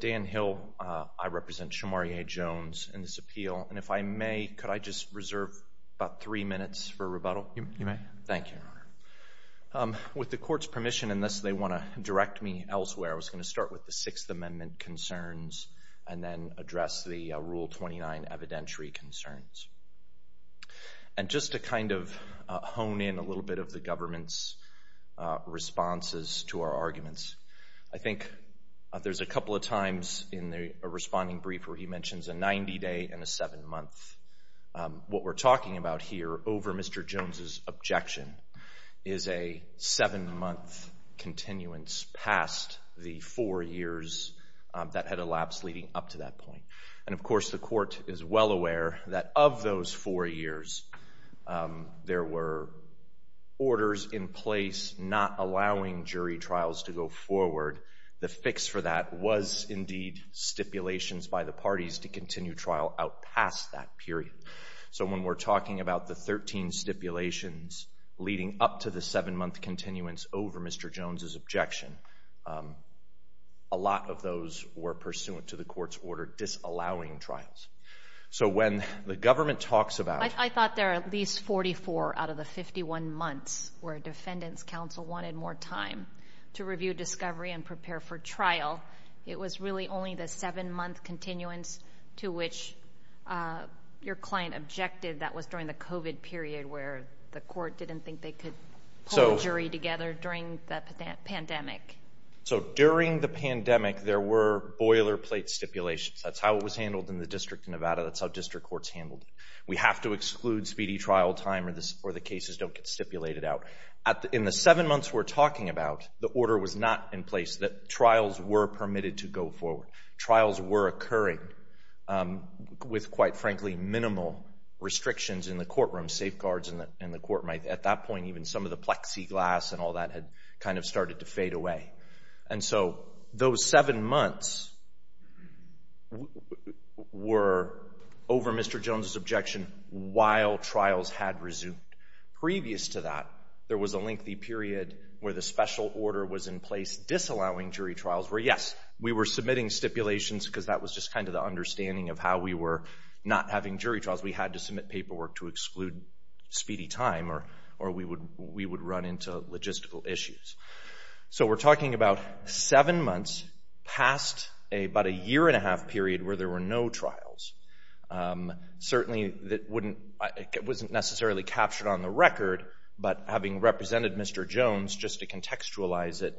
Dan Hill, I represent Shamariae Jones in this appeal. And if I may, could I just reserve about three minutes for rebuttal? You may. Thank you, Your Honor. With the court's permission in this, they want to direct me elsewhere. I was going to start with the Sixth Amendment concerns and then address the Rule 29 evidentiary concerns. And just to kind of hone in a little bit of the government's responses to our arguments. I think there's a couple of times in a responding brief where he mentions a 90-day and a seven-month. What we're talking about here over Mr. Jones' objection is a seven-month continuance past the four years that had elapsed leading up to that point. And of course, the court is well aware that of those four years, there were orders in place not allowing jury trials to go forward. The fix for that was indeed stipulations by the parties to continue trial out past that period. So when we're talking about the 13 stipulations leading up to the seven-month continuance over Mr. Jones' objection, a lot of those were pursuant to the court's order disallowing trials. So when the government talks about... I thought there are at least 44 out of the 51 months where a defendant's counsel wanted more time to review discovery and prepare for trial. It was really only the seven-month continuance to which your client objected that was during the COVID period where the court didn't think they could pull a jury together during the pandemic. So during the pandemic, there were boilerplate stipulations. That's how it was handled in the District of Nevada. That's how district courts handled it. We have to exclude speedy trial time or the cases don't get stipulated out. In the seven months we're talking about, the order was not in place that trials were permitted to go forward. Trials were occurring with quite frankly minimal restrictions in the courtroom, safeguards in the courtroom. At that point, even some of the plexiglass and all that had kind of started to fade away. And so those seven months were over Mr. Jones' objection while trials had resumed. Previous to that, there was a lengthy period where the special order was in place disallowing jury trials where, yes, we were submitting stipulations because that was just kind of the understanding of how we were not having jury trials. We had to submit paperwork to we would run into logistical issues. So we're talking about seven months past about a year and a half period where there were no trials. Certainly, it wasn't necessarily captured on the record, but having represented Mr. Jones, just to contextualize it,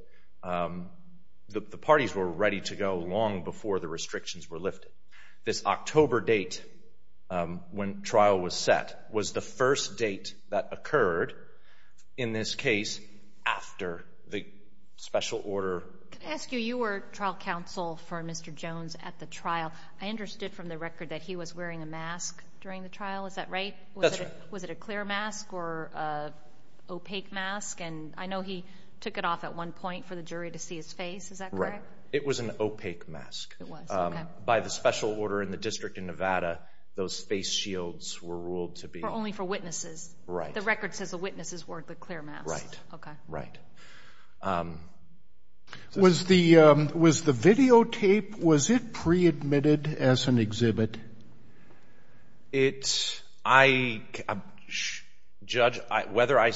the parties were ready to go long before the restrictions were lifted. This October date when trial was set was the first date that occurred in this case after the special order. Can I ask you, you were trial counsel for Mr. Jones at the trial. I understood from the record that he was wearing a mask during the trial. Is that right? That's right. Was it a clear mask or opaque mask? And I know he took it off at one point for the jury to see his face. Is that correct? It was an opaque mask. It was, okay. By the special order in the district in Nevada, those face shields were ruled to be... Only for witnesses. Right. The record says the witnesses wore the clear mask. Right. Okay. Right. Was the videotape, was it pre-admitted as an exhibit? It's, I, judge, whether I,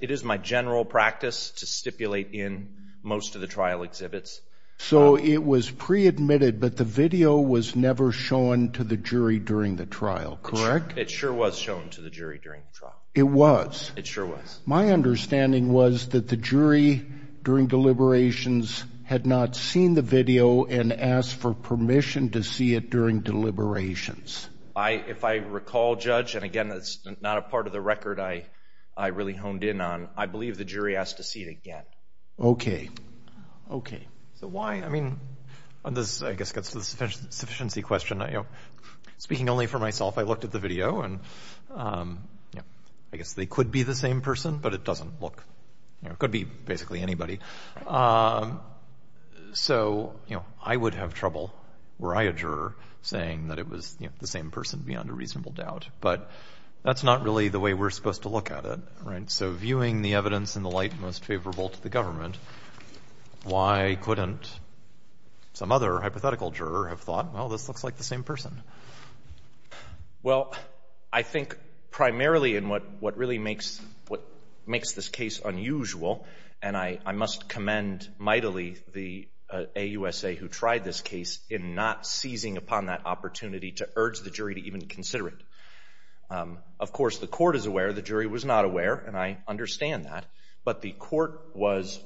it is my general practice to stipulate in most of the trial exhibits. So it was pre-admitted, but the video was never shown to the jury during the trial, correct? It sure was shown to the jury during the trial. It was? It sure was. My understanding was that the jury during deliberations had not seen the video and asked for permission to see it during deliberations. If I recall, judge, and again, that's not a part of the record I really honed in on, I believe the jury asked to see it again. Okay. Okay. So why, I mean, this, I guess, gets to the sufficiency question, you know, speaking only for myself, I looked at the video and, you know, I guess they could be the same person, but it doesn't look, you know, it could be basically anybody. So you know, I would have trouble were I a juror saying that it was the same person beyond a reasonable doubt, but that's not really the way we're supposed to look at it, right? So viewing the evidence in the light most favorable to the government, why couldn't some other hypothetical juror have thought, well, this looks like the same person? Well, I think primarily in what really makes this case unusual, and I must commend mightily the AUSA who tried this case in not seizing upon that opportunity to urge the jury to even consider it. Of course, the court is aware, the jury was not aware, and I understand that, but the court was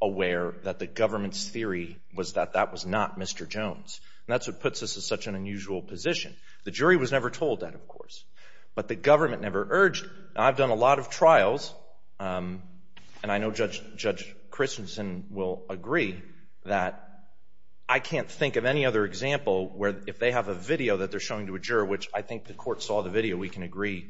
aware that the government's theory was that that was not Mr. Jones, and that's what puts us in such an unusual position. The jury was never told that, of course, but the government never urged. I've done a lot of trials, and I know Judge Christensen will agree that I can't think of any other example where if they have a video that they're showing to a juror, which I think the court saw the video, we can agree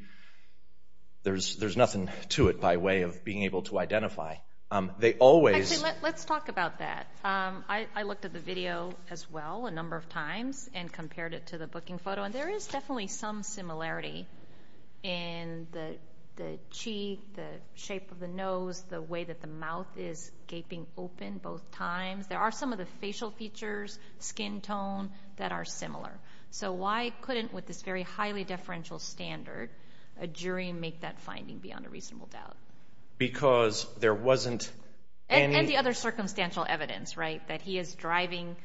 there's nothing to it by way of being able to identify. Actually, let's talk about that. I looked at the video as well a number of times and compared it to the booking photo, and there is definitely some similarity in the cheek, the shape of the nose, the way that the mouth is gaping open both times. There are some of the facial features, skin tone that are similar. So why couldn't, with this very highly deferential standard, a jury make that finding beyond a reasonable doubt? Because there wasn't any— And the other circumstantial evidence, right, that he is driving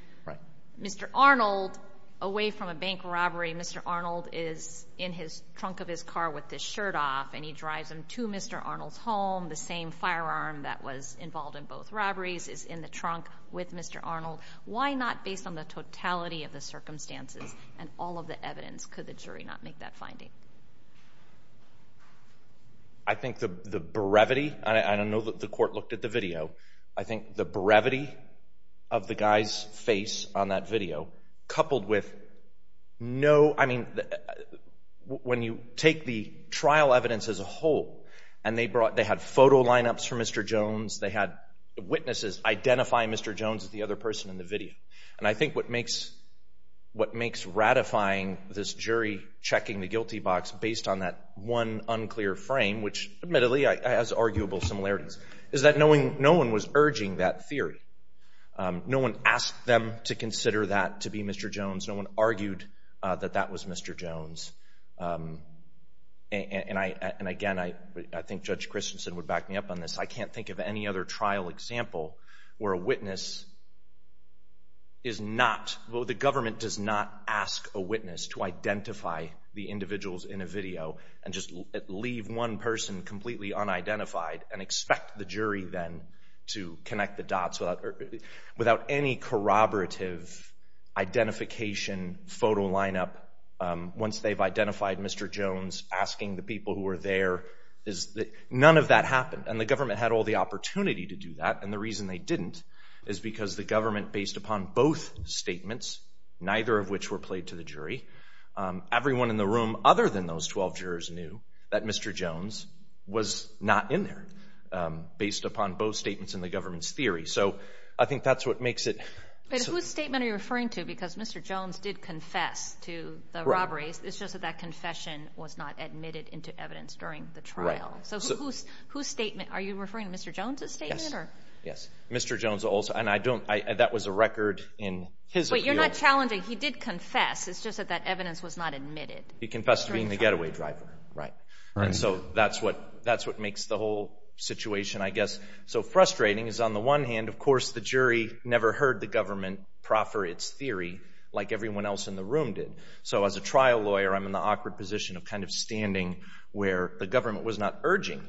Mr. Arnold away from a bank robbery. Mr. Arnold is in the trunk of his car with his shirt off, and he drives him to Mr. Arnold's home. The same firearm that was involved in both robberies is in the trunk with Mr. Arnold. Why not, based on the totality of the circumstances and all of the evidence, could the jury not make that finding? I think the brevity—and I know that the court looked at the video—I think the brevity of the guy's face on that video, coupled with no—I mean, when you take the trial evidence as a whole, and they brought—they had photo lineups for Mr. Jones, they had Mr. Jones as the other person in the video. And I think what makes ratifying this jury checking the guilty box based on that one unclear frame, which admittedly has arguable similarities, is that no one was urging that theory. No one asked them to consider that to be Mr. Jones. No one argued that that was Mr. Jones. And again, I think Judge Christensen would back me up on this. I can't think of any other trial example where a witness is not—the government does not ask a witness to identify the individuals in a video and just leave one person completely unidentified and expect the jury then to connect the dots without any corroborative identification photo lineup. Once they've identified Mr. Jones, asking the people who were there, none of that happened. And the government had all the opportunity to do that, and the reason they didn't is because the government, based upon both statements, neither of which were played to the jury, everyone in the room other than those 12 jurors knew that Mr. Jones was not in there, based upon both statements and the government's theory. So I think that's what makes it— But whose statement are you referring to? Because Mr. Jones did confess to the robberies. It's just that that confession was not admitted into evidence during the trial. So whose statement—are you referring to Mr. Jones' statement? Yes. Yes. Mr. Jones also—and I don't—that was a record in his view. Wait, you're not challenging—he did confess. It's just that that evidence was not admitted. He confessed to being the getaway driver. Right. And so that's what makes the whole situation, I guess, so frustrating is on the one hand, of course, the jury never heard the government proffer its theory like everyone else in the room did. So as a trial lawyer, I'm in the awkward position of kind of standing where the government was not urging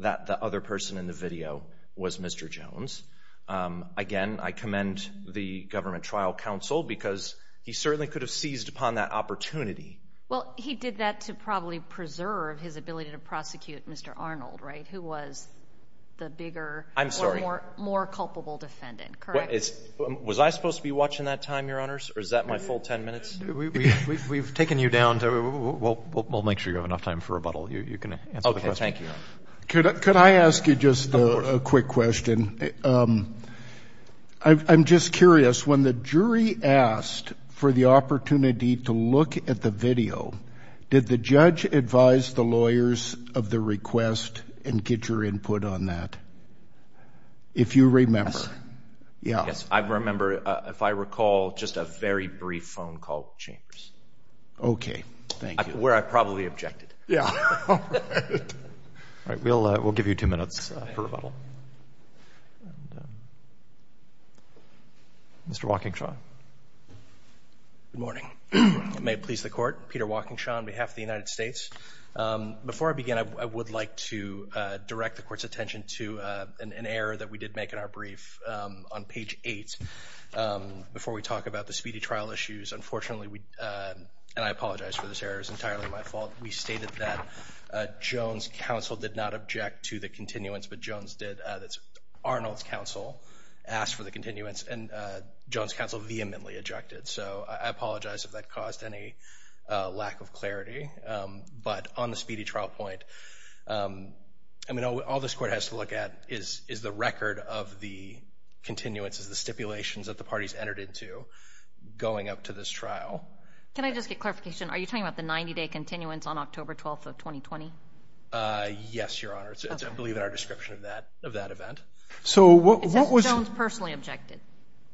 that the other person in the video was Mr. Jones. Again, I commend the government trial counsel because he certainly could have seized upon that opportunity. Well, he did that to probably preserve his ability to prosecute Mr. Arnold, right, who was the bigger— I'm sorry. —or more culpable defendant, correct? Was I supposed to be watching that time, Your Honors, or is that my full 10 minutes? Well, you can answer the question. Okay. Thank you, Your Honor. Could I ask you just a quick question? I'm just curious. When the jury asked for the opportunity to look at the video, did the judge advise the lawyers of the request and get your input on that? If you remember. Yes. Yeah. Yes. I remember, if I recall, just a very brief phone call with Chambers. Okay. Thank you. Where I probably objected. Yeah. All right. We'll give you two minutes for rebuttal. Mr. Walkingshaw. Good morning. If it may please the Court, Peter Walkingshaw on behalf of the United States. Before I begin, I would like to direct the Court's attention to an error that we did make in our brief on page 8. Before we talk about the speedy trial issues, unfortunately, and I apologize for this error, it's entirely my fault. We stated that Jones' counsel did not object to the continuance, but Arnold's counsel asked for the continuance, and Jones' counsel vehemently objected. So I apologize if that caused any lack of clarity. But on the speedy trial point, all this Court has to look at is the record of the continuances, the stipulations that the parties entered into going up to this trial. Can I just get clarification? Are you talking about the 90-day continuance on October 12th of 2020? Yes, Your Honor. It's, I believe, in our description of that event. So what was... Is that Jones' personally objected?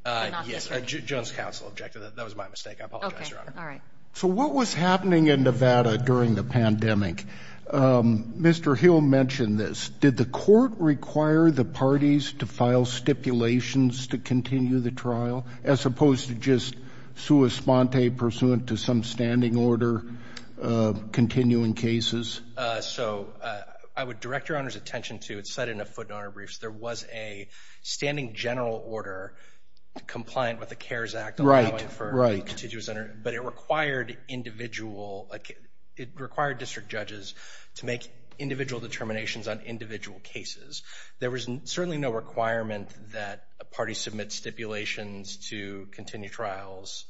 Yes. Jones' counsel objected. That was my mistake. I apologize, Your Honor. Okay. All right. So what was happening in Nevada during the pandemic? Mr. Hill mentioned this. Did the Court require the parties to file stipulations to continue the trial, as opposed to just sua sponte, pursuant to some standing order, continuing cases? So I would direct Your Honor's attention to, it's said in a footnote in our briefs, there was a standing general order compliant with the CARES Act allowing for a contiguous under... Right. Right. But it required individual... It required district judges to make individual determinations on individual cases. There was certainly no requirement that a party submit stipulations to continue trials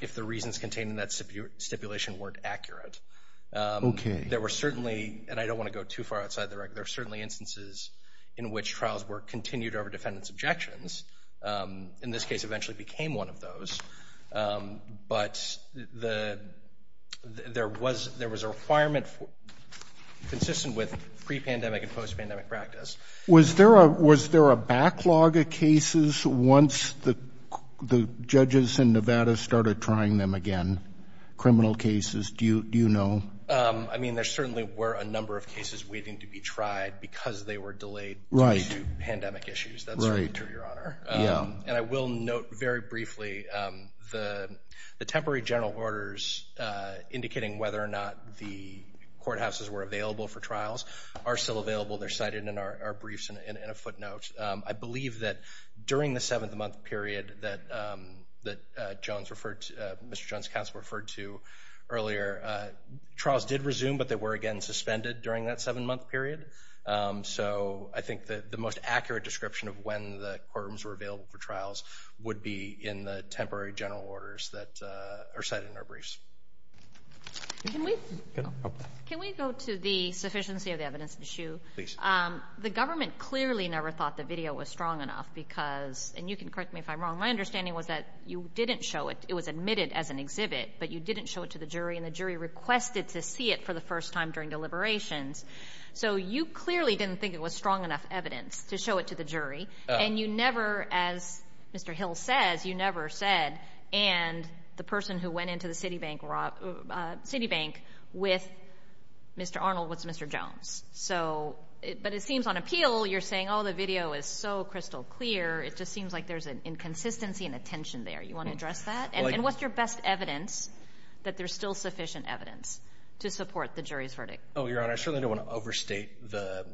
if the reasons contained in that stipulation weren't accurate. Okay. There were certainly, and I don't want to go too far outside the regular, there were certainly instances in which trials were continued over defendant's objections. In this case, it eventually became one of those. But there was a requirement consistent with pre-pandemic and post-pandemic practice. Was there a backlog of cases once the judges in Nevada started trying them again? Criminal cases? Do you know? I mean, there certainly were a number of cases waiting to be tried because they were delayed due to pandemic issues. Right. That's right, Your Honor. Yeah. And I will note very briefly the temporary general orders indicating whether or not the courthouses were available for trials are still available. They're cited in our briefs and in a footnote. I believe that during the seventh month period that Mr. Jones' counsel referred to earlier, trials did resume, but they were again suspended during that seven-month period. So I think that the most accurate description of when the courtrooms were available for trials would be in the temporary general orders that are cited in our briefs. Can we go to the sufficiency of the evidence issue? Please. The government clearly never thought the video was strong enough because, and you can correct me if I'm wrong, my understanding was that you didn't show it. It was admitted as an exhibit, but you didn't show it to the jury and the jury requested to see it for the first time during deliberations. So you clearly didn't think it was strong enough evidence to show it to the jury, and you never, as Mr. Hill says, you never said, and the person who went into the Citibank with Mr. Arnold was Mr. Jones. So, but it seems on appeal you're saying, oh, the video is so crystal clear, it just seems like there's an inconsistency and a tension there. You want to address that? And what's your best evidence that there's still sufficient evidence to support the jury's verdict? Oh, Your Honor, I certainly don't want to overstate the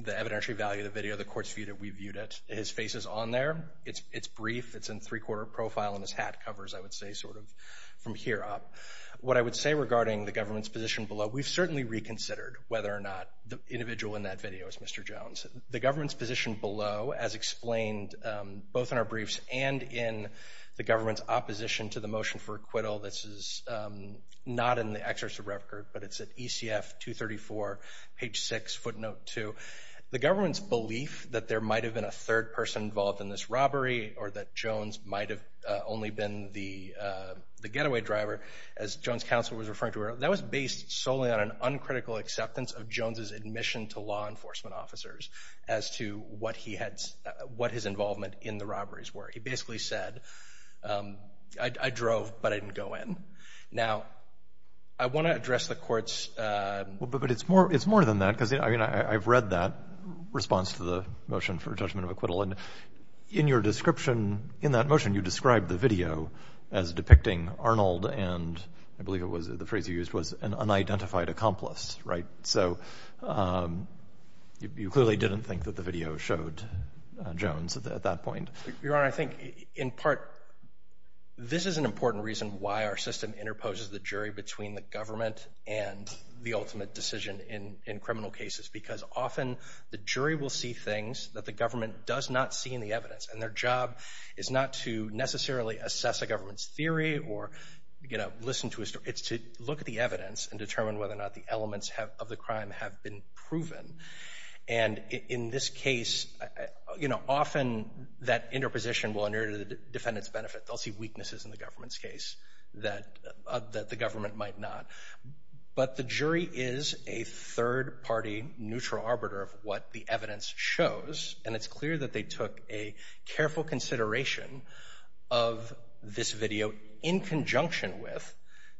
evidentiary value of the video, the court's view that we viewed it. His face is on there. It's brief. It's in three-quarter profile, and his hat covers, I would say, sort of from here up. What I would say regarding the government's position below, we've certainly reconsidered whether or not the individual in that video is Mr. Jones. The government's position below, as explained both in our briefs and in the government's opposition to the motion for acquittal, this is not in the excerpt of record, but it's at ECF 234, page 6, footnote 2. The government's belief that there might have been a third person involved in this robbery or that Jones might have only been the getaway driver, as Jones' counsel was referring to earlier, that was based solely on an uncritical acceptance of Jones' admission to law enforcement officers as to what his involvement in the robberies were. He basically said, I drove, but I didn't go in. Now, I want to address the Court's— Well, but it's more than that, because, I mean, I've read that response to the motion for judgment of acquittal, and in your description, in that motion, you described the video as depicting Arnold and, I believe it was the phrase you used, was an unidentified accomplice, right? So you clearly didn't think that the video showed Jones at that point. Your Honor, I think, in part, this is an important reason why our system interposes the jury between the government and the ultimate decision in criminal cases, because often the jury will see things that the government does not see in the evidence, and their job is not to necessarily assess a government's theory or, you know, listen to a—it's to look at the evidence and determine whether or not the elements of the crime have been proven. And in this case, you know, often that interposition will inure to the defendant's benefit. They'll see weaknesses in the government's case that the government might not. But the jury is a third-party neutral arbiter of what the evidence shows, and it's clear that they took a careful consideration of this video in conjunction with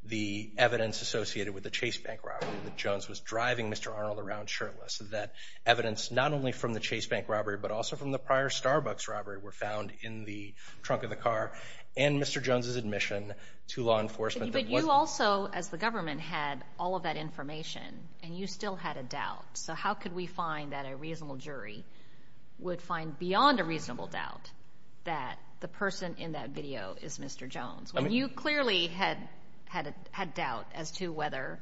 the evidence associated with the Chase Bank robbery that Jones was driving Mr. Arnold around shirtless, that evidence not only from the Chase Bank robbery but also from the prior Starbucks robbery were found in the trunk of the car and Mr. Jones's admission to law enforcement that wasn't— But you also, as the government, had all of that information, and you still had a doubt. So how could we find that a reasonable jury would find beyond a reasonable doubt that the person in that video is Mr. Jones? You clearly had doubt as to whether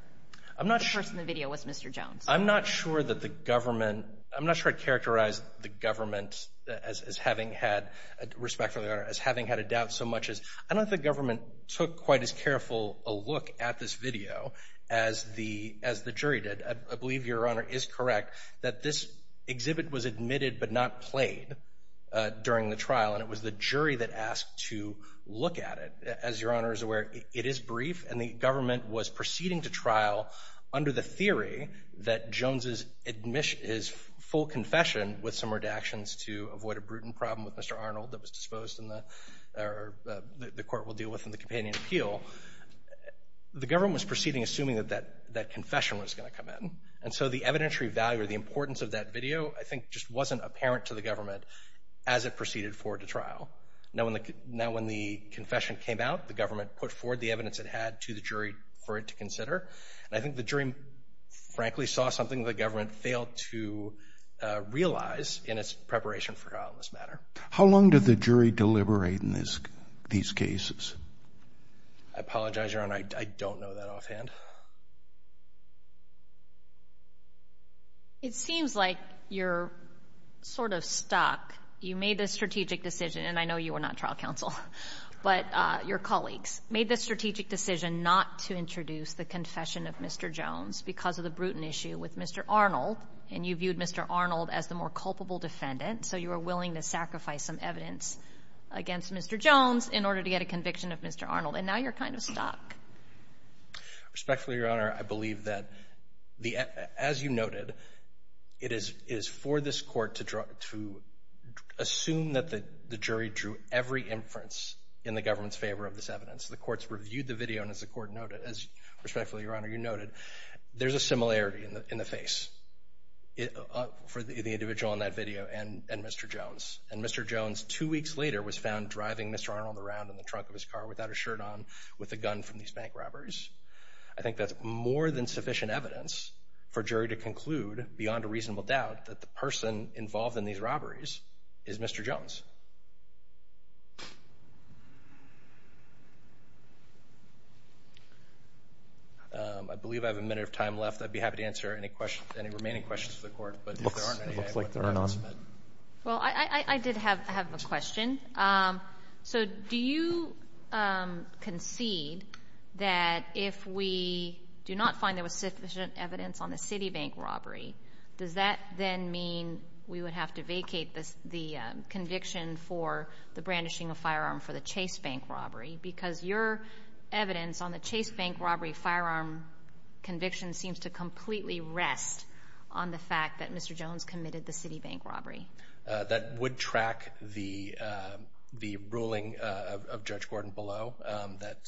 the person in the video was Mr. Jones. I'm not sure that the government—I'm not sure I'd characterize the government as having had—respectfully, Your Honor—as having had a doubt so much as I don't think the government took quite as careful a look at this video as the jury did. I believe Your Honor is correct that this exhibit was admitted but not played during the trial, and it was the jury that asked to look at it. As Your Honor is aware, it is brief, and the government was proceeding to trial under the theory that Jones's admission—his full confession, with some redactions to avoid a brutal problem with Mr. Arnold that was disposed in the—or the court will deal with in the companion appeal. The government was proceeding assuming that that confession was going to come in, and so the evidentiary value or the importance of that video I think just wasn't apparent to the government as it proceeded forward to trial. Now when the confession came out, the government put forward the evidence it had to the jury for it to consider, and I think the jury frankly saw something the government failed to realize in its preparation for trial in this matter. How long did the jury deliberate in these cases? I apologize, Your Honor, I don't know that offhand. It seems like you're sort of stuck. You made this strategic decision, and I know you were not trial counsel, but your colleagues made this strategic decision not to introduce the confession of Mr. Jones because of the brutal issue with Mr. Arnold, and you viewed Mr. Arnold as the more culpable defendant, so you were willing to sacrifice some evidence against Mr. Jones in order to get a conviction of Mr. Arnold, and now you're kind of stuck. Respectfully, Your Honor, I believe that, as you noted, it is for this court to assume that the jury drew every inference in the government's favor of this evidence. The courts reviewed the video, and as the court noted, as respectfully, Your Honor, you noted, there's a similarity in the face for the individual in that video and Mr. Jones, and Mr. Jones two weeks later was found driving Mr. Arnold around in the trunk of his car without a shirt on with a gun from these bank robberies. I think that's more than sufficient evidence for a jury to conclude, beyond a reasonable doubt, that the person involved in these robberies is Mr. Jones. I believe I have a minute of time left. I'd be happy to answer any remaining questions of the court, but if there aren't any, I'm going to move on. It looks like there aren't any. Well, I did have a question. So, do you concede that if we do not find there was sufficient evidence on the Citibank robbery, does that then mean we would have to vacate the conviction for the brandishing of firearm for the Chase Bank robbery? Because your evidence on the Chase Bank robbery firearm conviction seems to completely rest on the fact that Mr. Jones committed the Citibank robbery. That would track the ruling of Judge Gordon below that,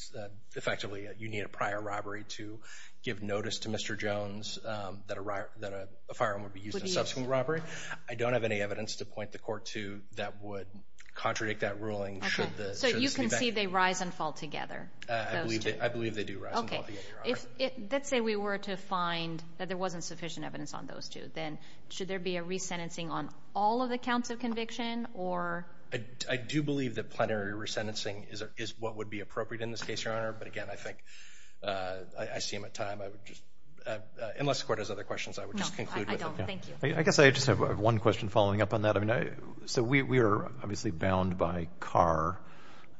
effectively, you need a prior robbery to give notice to Mr. Jones that a firearm would be used in a subsequent robbery. I don't have any evidence to point the court to that would contradict that ruling should the Citibank robbery be used. So, you concede they rise and fall together, those two? I believe they do rise and fall together. Okay. Let's say we were to find that there wasn't sufficient evidence on those two, then should there be a resentencing on all of the counts of conviction or? I do believe that plenary resentencing is what would be appropriate in this case, Your Honor. But again, I think, I see him at time, I would just, unless the court has other questions, I would just conclude with it. No, I don't. Thank you. I guess I just have one question following up on that. I mean, so we are obviously bound by Carr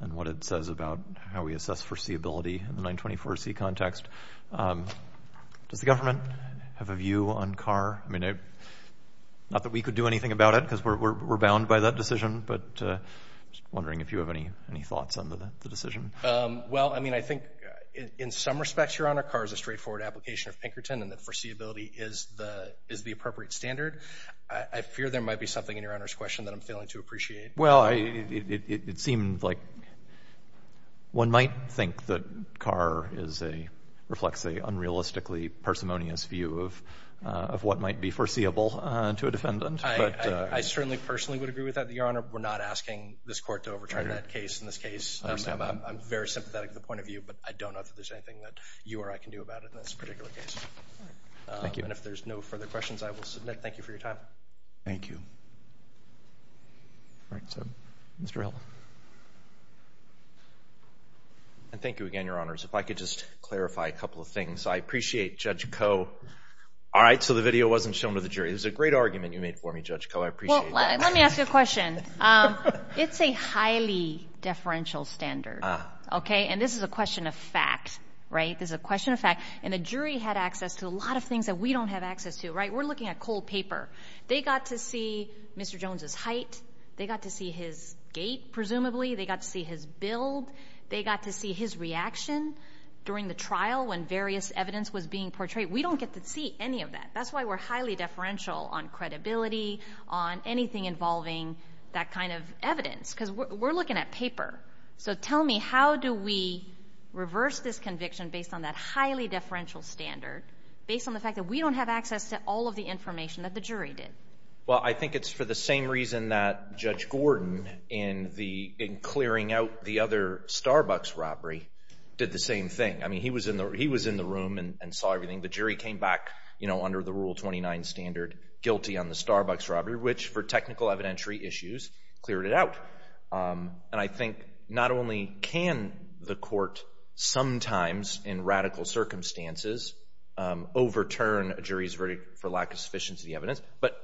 and what it says about how we assess foreseeability in the 924C context. Does the government have a view on Carr? I mean, not that we could do anything about it because we're bound by that decision, but I'm just wondering if you have any thoughts on the decision. Well, I mean, I think in some respects, Your Honor, Carr is a straightforward application of Pinkerton and that foreseeability is the appropriate standard. I fear there might be something in Your Honor's question that I'm failing to appreciate. Well, it seemed like one might think that Carr is a, reflects a unrealistically parsimonious view of what might be foreseeable to a defendant. I certainly personally would agree with that, but Your Honor, we're not asking this court to overturn that case. In this case, I'm very sympathetic to the point of view, but I don't know if there's anything that you or I can do about it in this particular case. Thank you. And if there's no further questions, I will submit. Thank you for your time. Thank you. All right. So, Mr. Hill. And thank you again, Your Honors, if I could just clarify a couple of things. I appreciate Judge Koh. All right. So, the video wasn't shown to the jury. It was a great argument you made for me, Judge Koh. I appreciate that. Well, let me ask you a question. It's a highly deferential standard. Okay? And this is a question of fact, right? This is a question of fact. And the jury had access to a lot of things that we don't have access to, right? We're looking at cold paper. They got to see Mr. Jones' height. They got to see his gait, presumably. They got to see his build. They got to see his reaction during the trial when various evidence was being portrayed. We don't get to see any of that. That's why we're highly deferential on credibility, on anything involving that kind of evidence. Because we're looking at paper. So tell me, how do we reverse this conviction based on that highly deferential standard, based on the fact that we don't have access to all of the information that the jury did? Well, I think it's for the same reason that Judge Gordon, in clearing out the other Starbucks robbery, did the same thing. I mean, he was in the room and saw everything. The jury came back, you know, under the Rule 29 standard, guilty on the Starbucks robbery, which for technical evidentiary issues, cleared it out. And I think not only can the court sometimes, in radical circumstances, overturn a jury's for lack of sufficiency evidence, but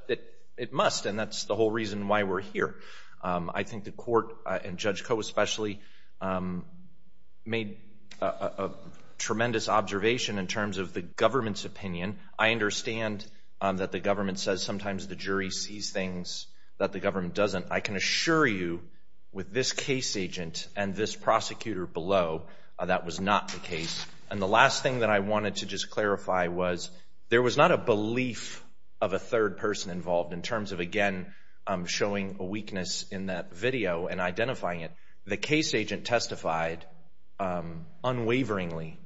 it must. And that's the whole reason why we're here. I think the court, and Judge Koh especially, made a tremendous observation in terms of the government's opinion. I understand that the government says sometimes the jury sees things that the government doesn't. I can assure you, with this case agent and this prosecutor below, that was not the case. And the last thing that I wanted to just clarify was, there was not a belief of a third person involved in terms of, again, showing a weakness in that video and identifying it. The case agent testified unwaveringly,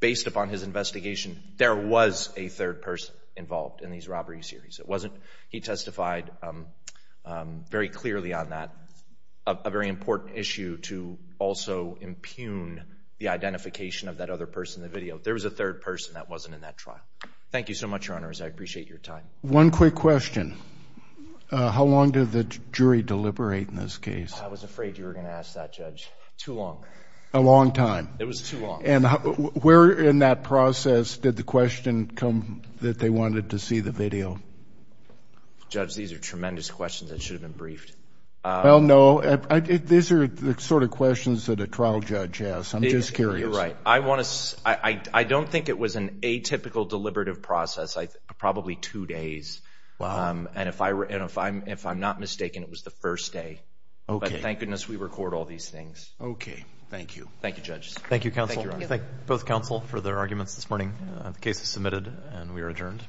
based upon his investigation, there was a third person involved in these robbery series. It wasn't, he testified very clearly on that, a very important issue to also impugn the other person in the video. There was a third person that wasn't in that trial. Thank you so much, Your Honors. I appreciate your time. One quick question. How long did the jury deliberate in this case? I was afraid you were going to ask that, Judge. Too long. A long time. It was too long. And where in that process did the question come that they wanted to see the video? Judge, these are tremendous questions that should have been briefed. Well, no. These are the sort of questions that a trial judge asks. I'm just curious. You're right. I want to, I don't think it was an atypical deliberative process. Probably two days. Wow. And if I'm not mistaken, it was the first day. Okay. But thank goodness we record all these things. Okay. Thank you. Thank you, Judge. Thank you, counsel. Thank you, Your Honor. Thank both counsel for their arguments this morning. The case is submitted and we are adjourned.